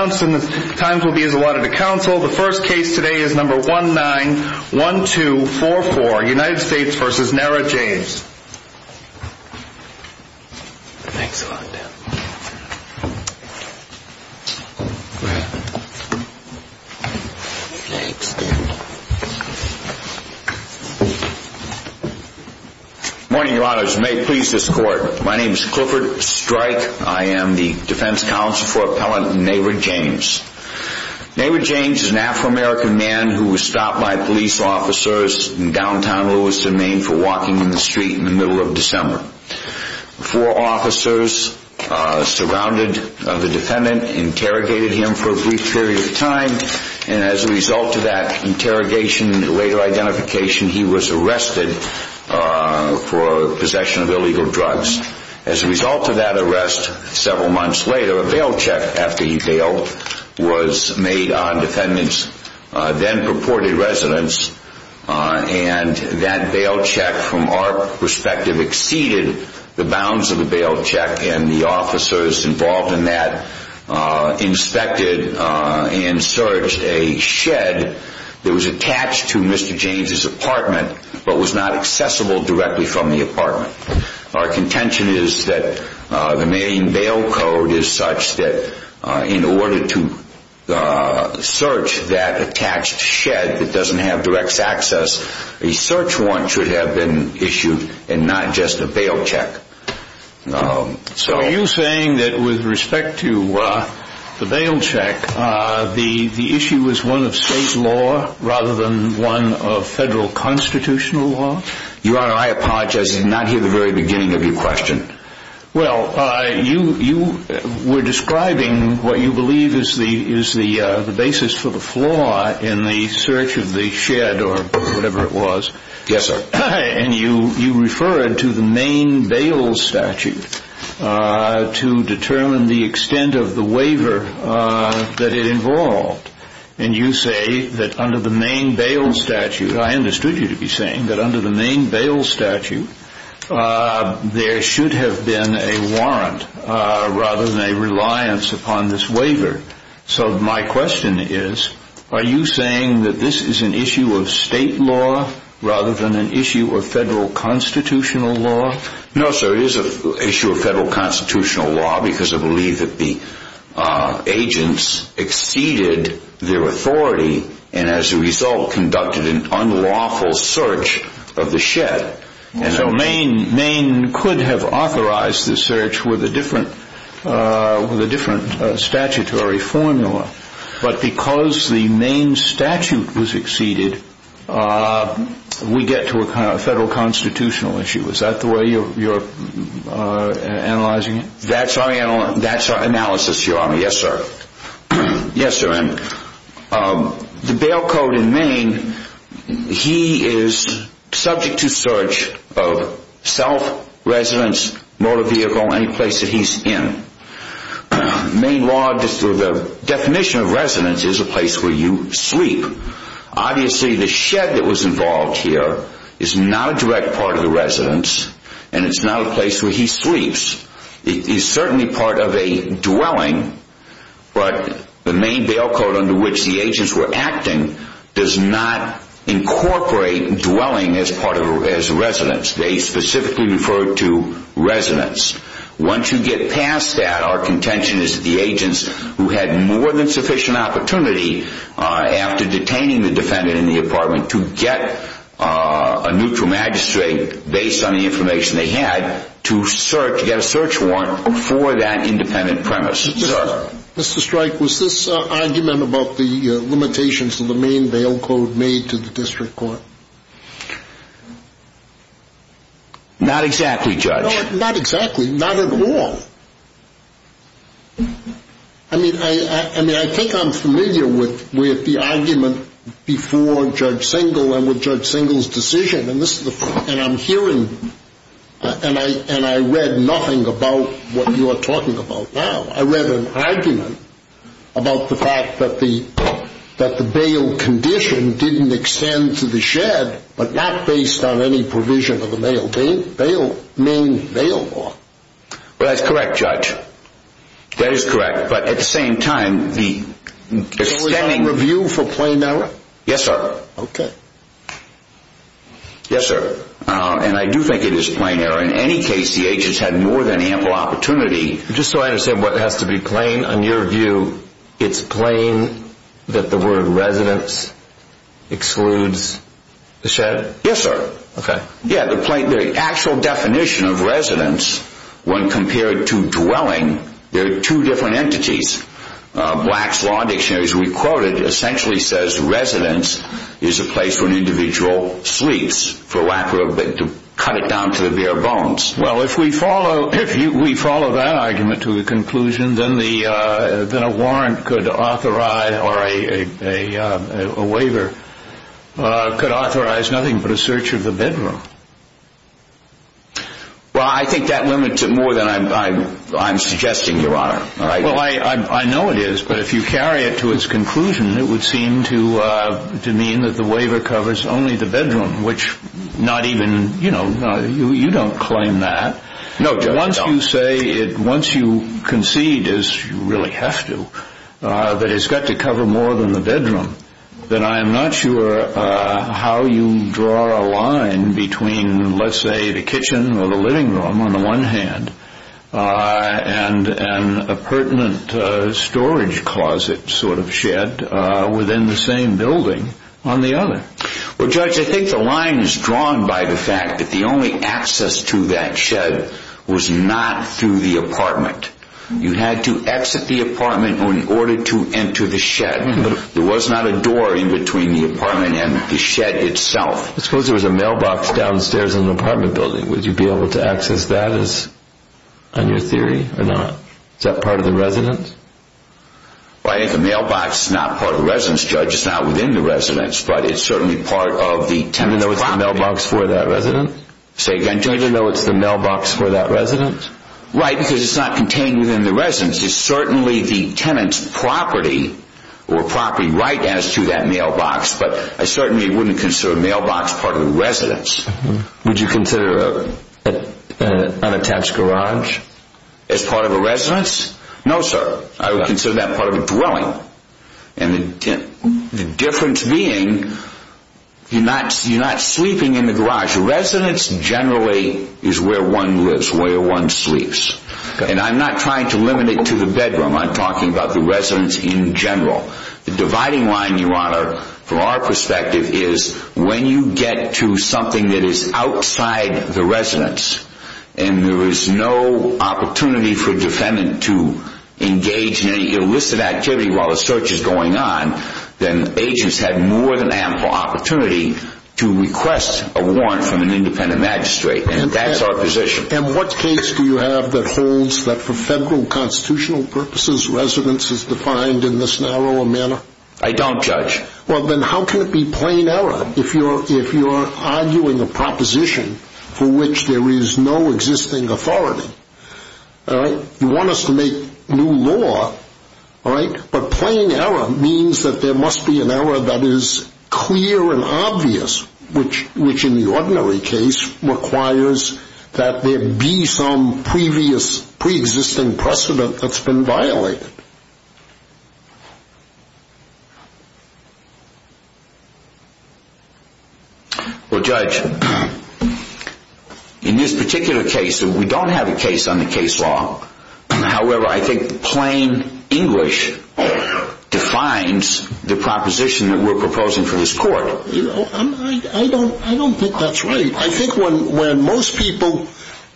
and the times will be as allotted to counsel the first case today is number one nine one two four four United States versus Nara James morning your honors may please this court my name is Clifford strike I am the defense counsel for Nara James Nara James is an Afro-American man who was stopped by police officers in downtown Louisville Maine for walking in the street in the middle of December four officers surrounded the defendant interrogated him for a brief period of time and as a result of that interrogation later identification he was arrested for possession of illegal was made on defendants then purported residence and that bail check from our perspective exceeded the bounds of the bail check and the officers involved in that inspected and searched a shed that was attached to Mr. James's apartment but was not accessible directly from the apartment our contention is that the Maine bail code is such that in order to search that attached shed that doesn't have direct access a search warrant should have been issued and not just a bail check so you saying that with respect to the bail check the the issue was one of the very beginning of your question well I you you were describing what you believe is the is the the basis for the flaw in the search of the shed or whatever it was yes sir and you you referred to the Maine bail statute to determine the extent of the waiver that it involved and you say that under the Maine bail statute I understood you to be saying that under the there should have been a warrant rather than a reliance upon this waiver so my question is are you saying that this is an issue of state law rather than an issue of federal constitutional law no sir is a issue of federal constitutional law because I believe that the agents exceeded their could have authorized the search with a different with a different statutory formula but because the Maine statute was exceeded we get to a kind of federal constitutional issue is that the way you're analyzing it that's our analysis your honor yes sir yes sir and the bail code in Maine he is subject to search of self residence motor vehicle any place that he's in Maine law the definition of residence is a place where you sleep obviously the shed that was involved here is not a direct part of the residence and it's not a place where he sleeps it is certainly part of a dwelling but the Maine bail code under which the agents were acting does not incorporate dwelling as part of as residence they specifically refer to residence once you get past that our contention is the agents who had more than sufficient opportunity after detaining the defendant in the apartment to get a neutral magistrate based on the information they had to search to get a search warrant for that independent premise Mr. Strike was this argument about the limitations of the Maine bail code made to the district court not exactly judge not exactly not at all I mean I I mean I think I'm familiar with with the argument before Judge Singal and with Judge Singal's decision and this is the and I'm hearing and I and I read nothing about what you are talking about now I read an argument about the fact that the that the bail condition didn't extend to the shed but not based on any provision of the mail bail Maine bail law well that's correct judge that is correct but at the same time the stemming review for plain error yes sir okay yes sir and I do think it is plain error in any case the agents had more than ample opportunity just so I understand what has to be plain on your view it's plain that the word residence excludes the shed yes sir okay yeah the plain the actual definition of residence when compared to dwelling there are two different entities Black's law dictionaries we quoted essentially says residence is a place where an individual sleeps for lack of a bit to cut it down to the bare bones well if we follow if you we follow that argument to the conclusion then the then a warrant could authorize or a a a a waiver could authorize nothing but a search of the bedroom well I think that limits it more than I'm I'm I'm suggesting your honor all right well I I know it is but if you carry it to its conclusion it would seem to uh to mean that the waiver covers only the bedroom which not even you know you you don't claim that no once you say it once you concede as you really have to uh that it's got to cover more than the bedroom then I am not sure uh how you draw a line between let's say the kitchen or the living room on the one hand uh and and a pertinent uh storage closet sort of shed uh within the same building on the other well judge I think the line is drawn by the fact that the only access to that shed was not through the apartment you had to exit the apartment in order to enter the shed but there was not a door in between the apartment and the shed itself I suppose there was a mailbox downstairs in the apartment building would you be able to access that as on your theory or not is that part of the residence well I think the mailbox is not part of the residence judge it's not within the residence but it's certainly part of the tenant mailbox for that resident say again judge I know it's the mailbox for that resident right because it's not contained within the residence it's certainly the tenant's property or property right as to that mailbox but I certainly wouldn't consider mailbox part of the residence would you consider an unattached garage as part of a residence no sir I would consider that part of a dwelling and the difference being you're not you're not sleeping in the garage the residence generally is where one lives where one sleeps and I'm not trying to limit it to the bedroom I'm talking about the residence in general the dividing line your honor from our perspective is when you get to something that is outside the residence and there is no opportunity for defendant to engage in any illicit activity while the search is going on then agents have more than ample opportunity to request a warrant from an independent magistrate and that's our position and what case do you have that holds that for well then how can it be plain error if you're if you're arguing a proposition for which there is no existing authority all right you want us to make new law all right but plain error means that there must be an error that is clear and obvious which which in the ordinary case requires that there be some previous pre-existing precedent that's been violated well judge in this particular case we don't have a case on the case law however I think plain English defines the proposition that we're proposing for this court you know I don't I don't think that's right I think when when most people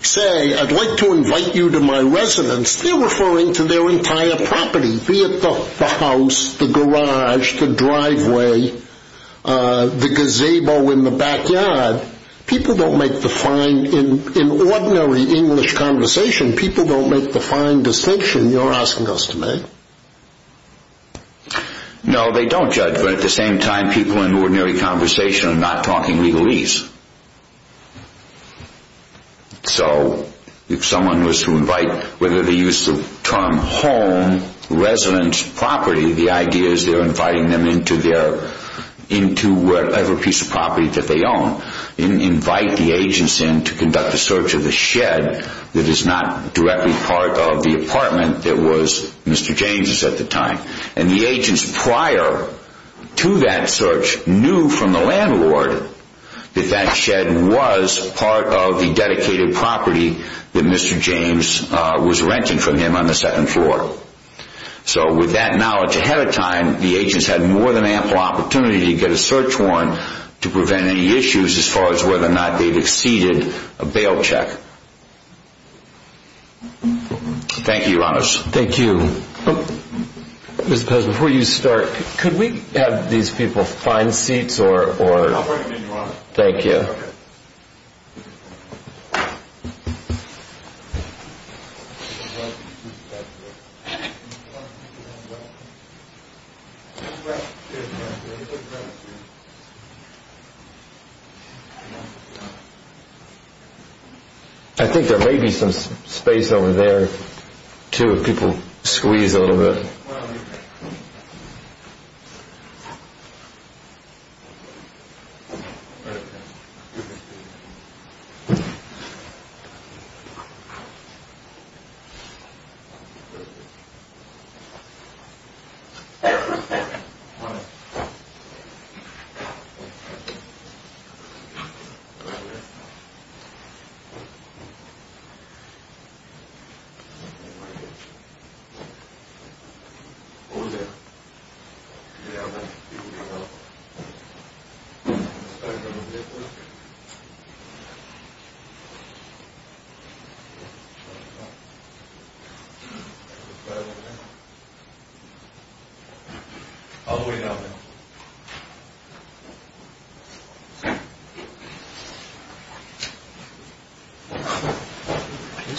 say I'd like to invite you to my residence they're referring to their entire property be it the house the garage the driveway the parking lot driveway the gazebo in the backyard people don't make the fine in in ordinary English conversation people don't make the fine distinction you're asking us to make no they don't judge but at the same time people in ordinary conversation are not talking legalese so if someone was to invite whether the use of term home residence property the idea is they're going to invite the agents in to conduct a search of the shed that is not directly part of the apartment that was Mr. James's at the time and the agents prior to that search knew from the landlord that that shed was part of the dedicated property that Mr. James was renting from him on the second ample opportunity to get a search warrant to prevent any issues as far as whether or not they've exceeded a bail check. Thank you your honors. Thank you. Mr. Pez before you start could we have these people find seats or or thank you I think there may be some space over there too if people squeeze a little bit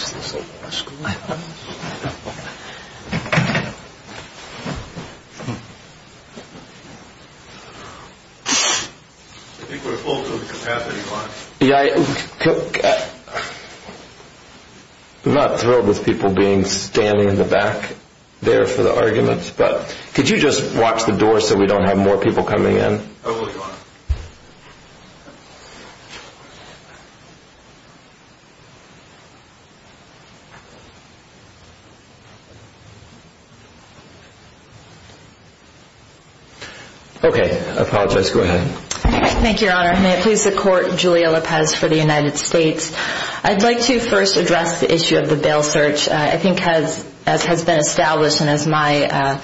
so okay um oh there over there i think we're close to the capacity line yeah i took uh i'm not thrilled with people being standing in the back there for the arguments but could you just watch the door so we don't have more people coming in oh will you okay i apologize go ahead thank you your honor may it please the court julia lopez for the united states i'd like to first address the issue of the bail search i think has as has been established and as my uh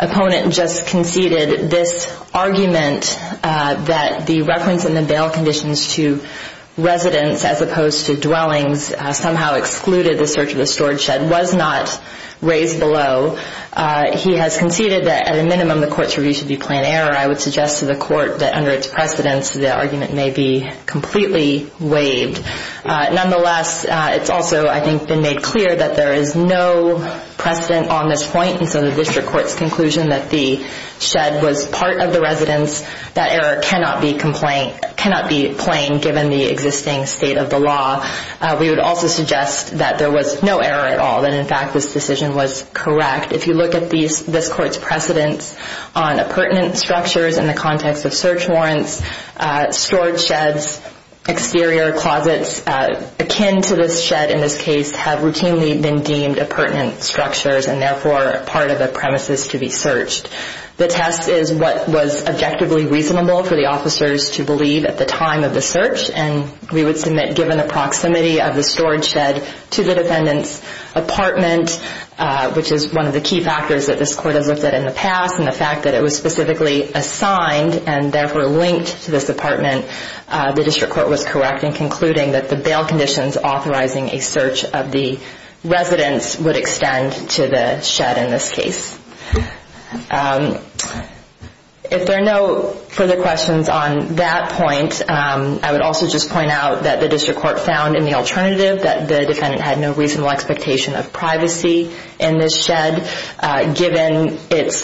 opponent just conceded this argument uh that the reference in the bail conditions to residents as opposed to dwellings somehow excluded the search of the storage shed was not raised below uh he has conceded that at a minimum the court's review should be plain error i would suggest to the court that under its precedence the argument may be waived nonetheless it's also i think been made clear that there is no precedent on this point and so the district court's conclusion that the shed was part of the residence that error cannot be complained cannot be plain given the existing state of the law we would also suggest that there was no error at all that in fact this decision was correct if you look at these this court's on a pertinent structures in the context of search warrants uh storage sheds exterior closets akin to this shed in this case have routinely been deemed a pertinent structures and therefore part of the premises to be searched the test is what was objectively reasonable for the officers to believe at the time of the search and we would submit given the proximity of the storage shed to the defendant's apartment which is one of the key factors that this court has looked at in the past and the fact that it was specifically assigned and therefore linked to this apartment the district court was correct in concluding that the bail conditions authorizing a search of the residence would extend to the shed in this case if there are no further questions on that point i would also just point out that the district court found in the alternative that the defendant had no reasonable expectation of privacy in this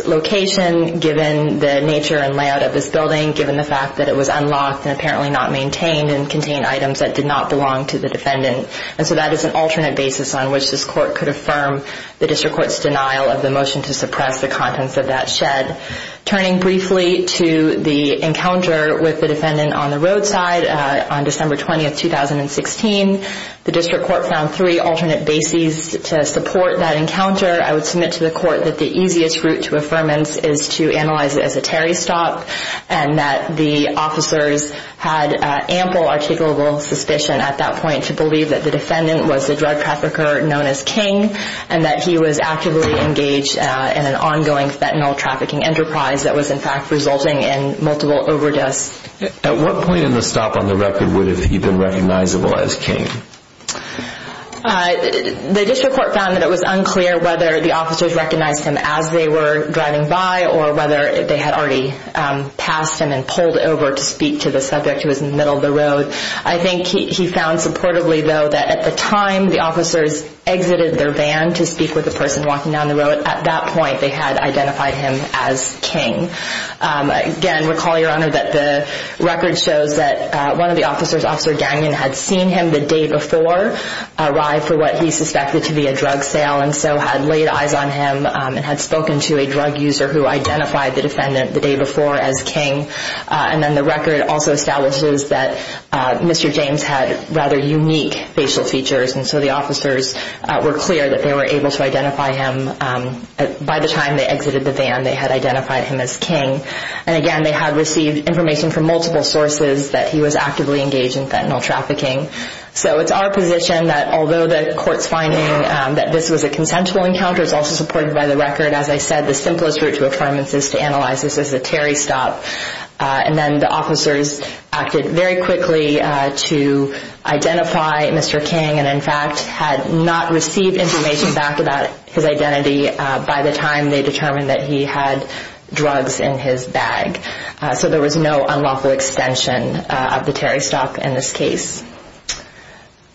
location given the nature and layout of this building given the fact that it was unlocked and apparently not maintained and contained items that did not belong to the defendant and so that is an alternate basis on which this court could affirm the district court's denial of the motion to suppress the contents of that shed turning briefly to the encounter with the defendant on the roadside on december 20th 2016 the district court found three alternate bases to support that encounter i would submit to the court that the easiest route to affirmance is to analyze it as a terry stop and that the officers had ample articulable suspicion at that point to believe that the defendant was the drug trafficker known as king and that he was actively engaged in an ongoing fentanyl trafficking enterprise that was in fact resulting in multiple overdose at what point in the stop on the record would have he been recognizable as king uh the district court found that it was unclear whether the officers recognized him as they were driving by or whether they had already um passed him and pulled over to speak to the subject who was in the middle of the road i think he found supportably though that at the time the officers exited their van to speak with the person walking down the road at that point they had identified him as king again recall your honor that the record shows that one of the officers officer had seen him the day before arrived for what he suspected to be a drug sale and so had laid eyes on him and had spoken to a drug user who identified the defendant the day before as king and then the record also establishes that mr james had rather unique facial features and so the officers were clear that they were able to identify him by the time they exited the van they had identified him as king and again they had received information from multiple sources that he was actively engaged in fentanyl trafficking so it's our position that although the court's finding that this was a consensual encounter is also supported by the record as i said the simplest route to affirmance is to analyze this as a terry stop and then the officers acted very quickly to identify mr king and in fact had not received information back about his identity by the time they determined that he had drugs in his bag so there was no unlawful extension of the terry stock in this case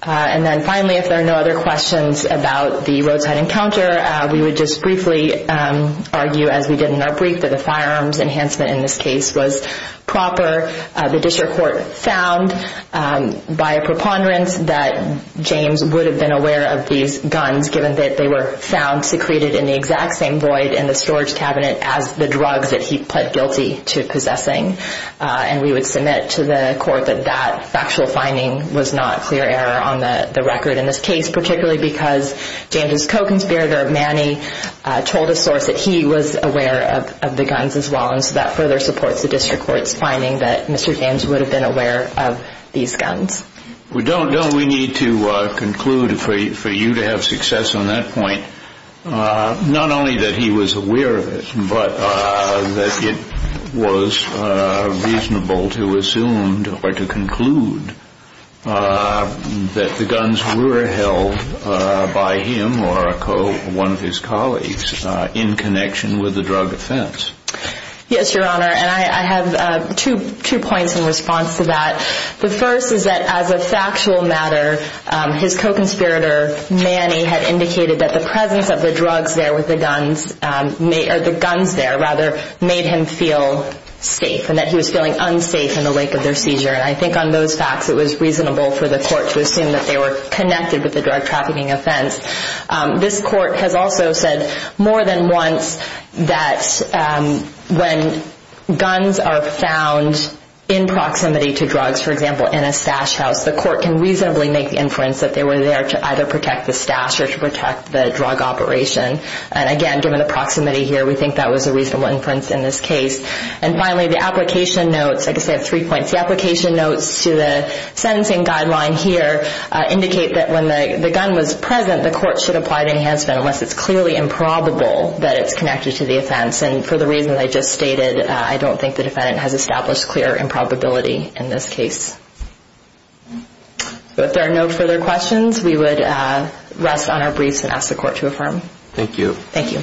and then finally if there are no other questions about the roadside encounter we would just briefly argue as we did in our brief that the firearms enhancement in this case was proper the district court found by a preponderance that james would have been aware of these guns given that they were found secreted in the exact same void in the storage cabinet as the drugs that he pled guilty to possessing and we would submit to the court that that factual finding was not clear error on the the record in this case particularly because james's co-conspirator manny told a source that he was aware of the guns as well and so that further supports the district court's finding that mr james would have been aware of these guns we don't don't we need to conclude for you to have success on that point not only that he was aware of it but that it was reasonable to assume or to conclude that the guns were held by him or a co one of his colleagues in connection with the drug offense yes your honor and i i have two two points in his co-conspirator manny had indicated that the presence of the drugs there with the guns may or the guns there rather made him feel safe and that he was feeling unsafe in the wake of their seizure and i think on those facts it was reasonable for the court to assume that they were connected with the drug trafficking offense this court has also said more than once that when guns are found in proximity to drugs for example in a stash house the court can reasonably make the inference that they were there to either protect the stash or to protect the drug operation and again given the proximity here we think that was a reasonable inference in this case and finally the application notes i guess i have three points the application notes to the sentencing guideline here indicate that when the the gun was present the court should apply enhancement unless it's clearly improbable that it's connected to the offense and for the reason i just stated i don't think the defendant has established clear improbability in this case so if there are no further questions we would rest on our briefs and ask the court to affirm thank you thank you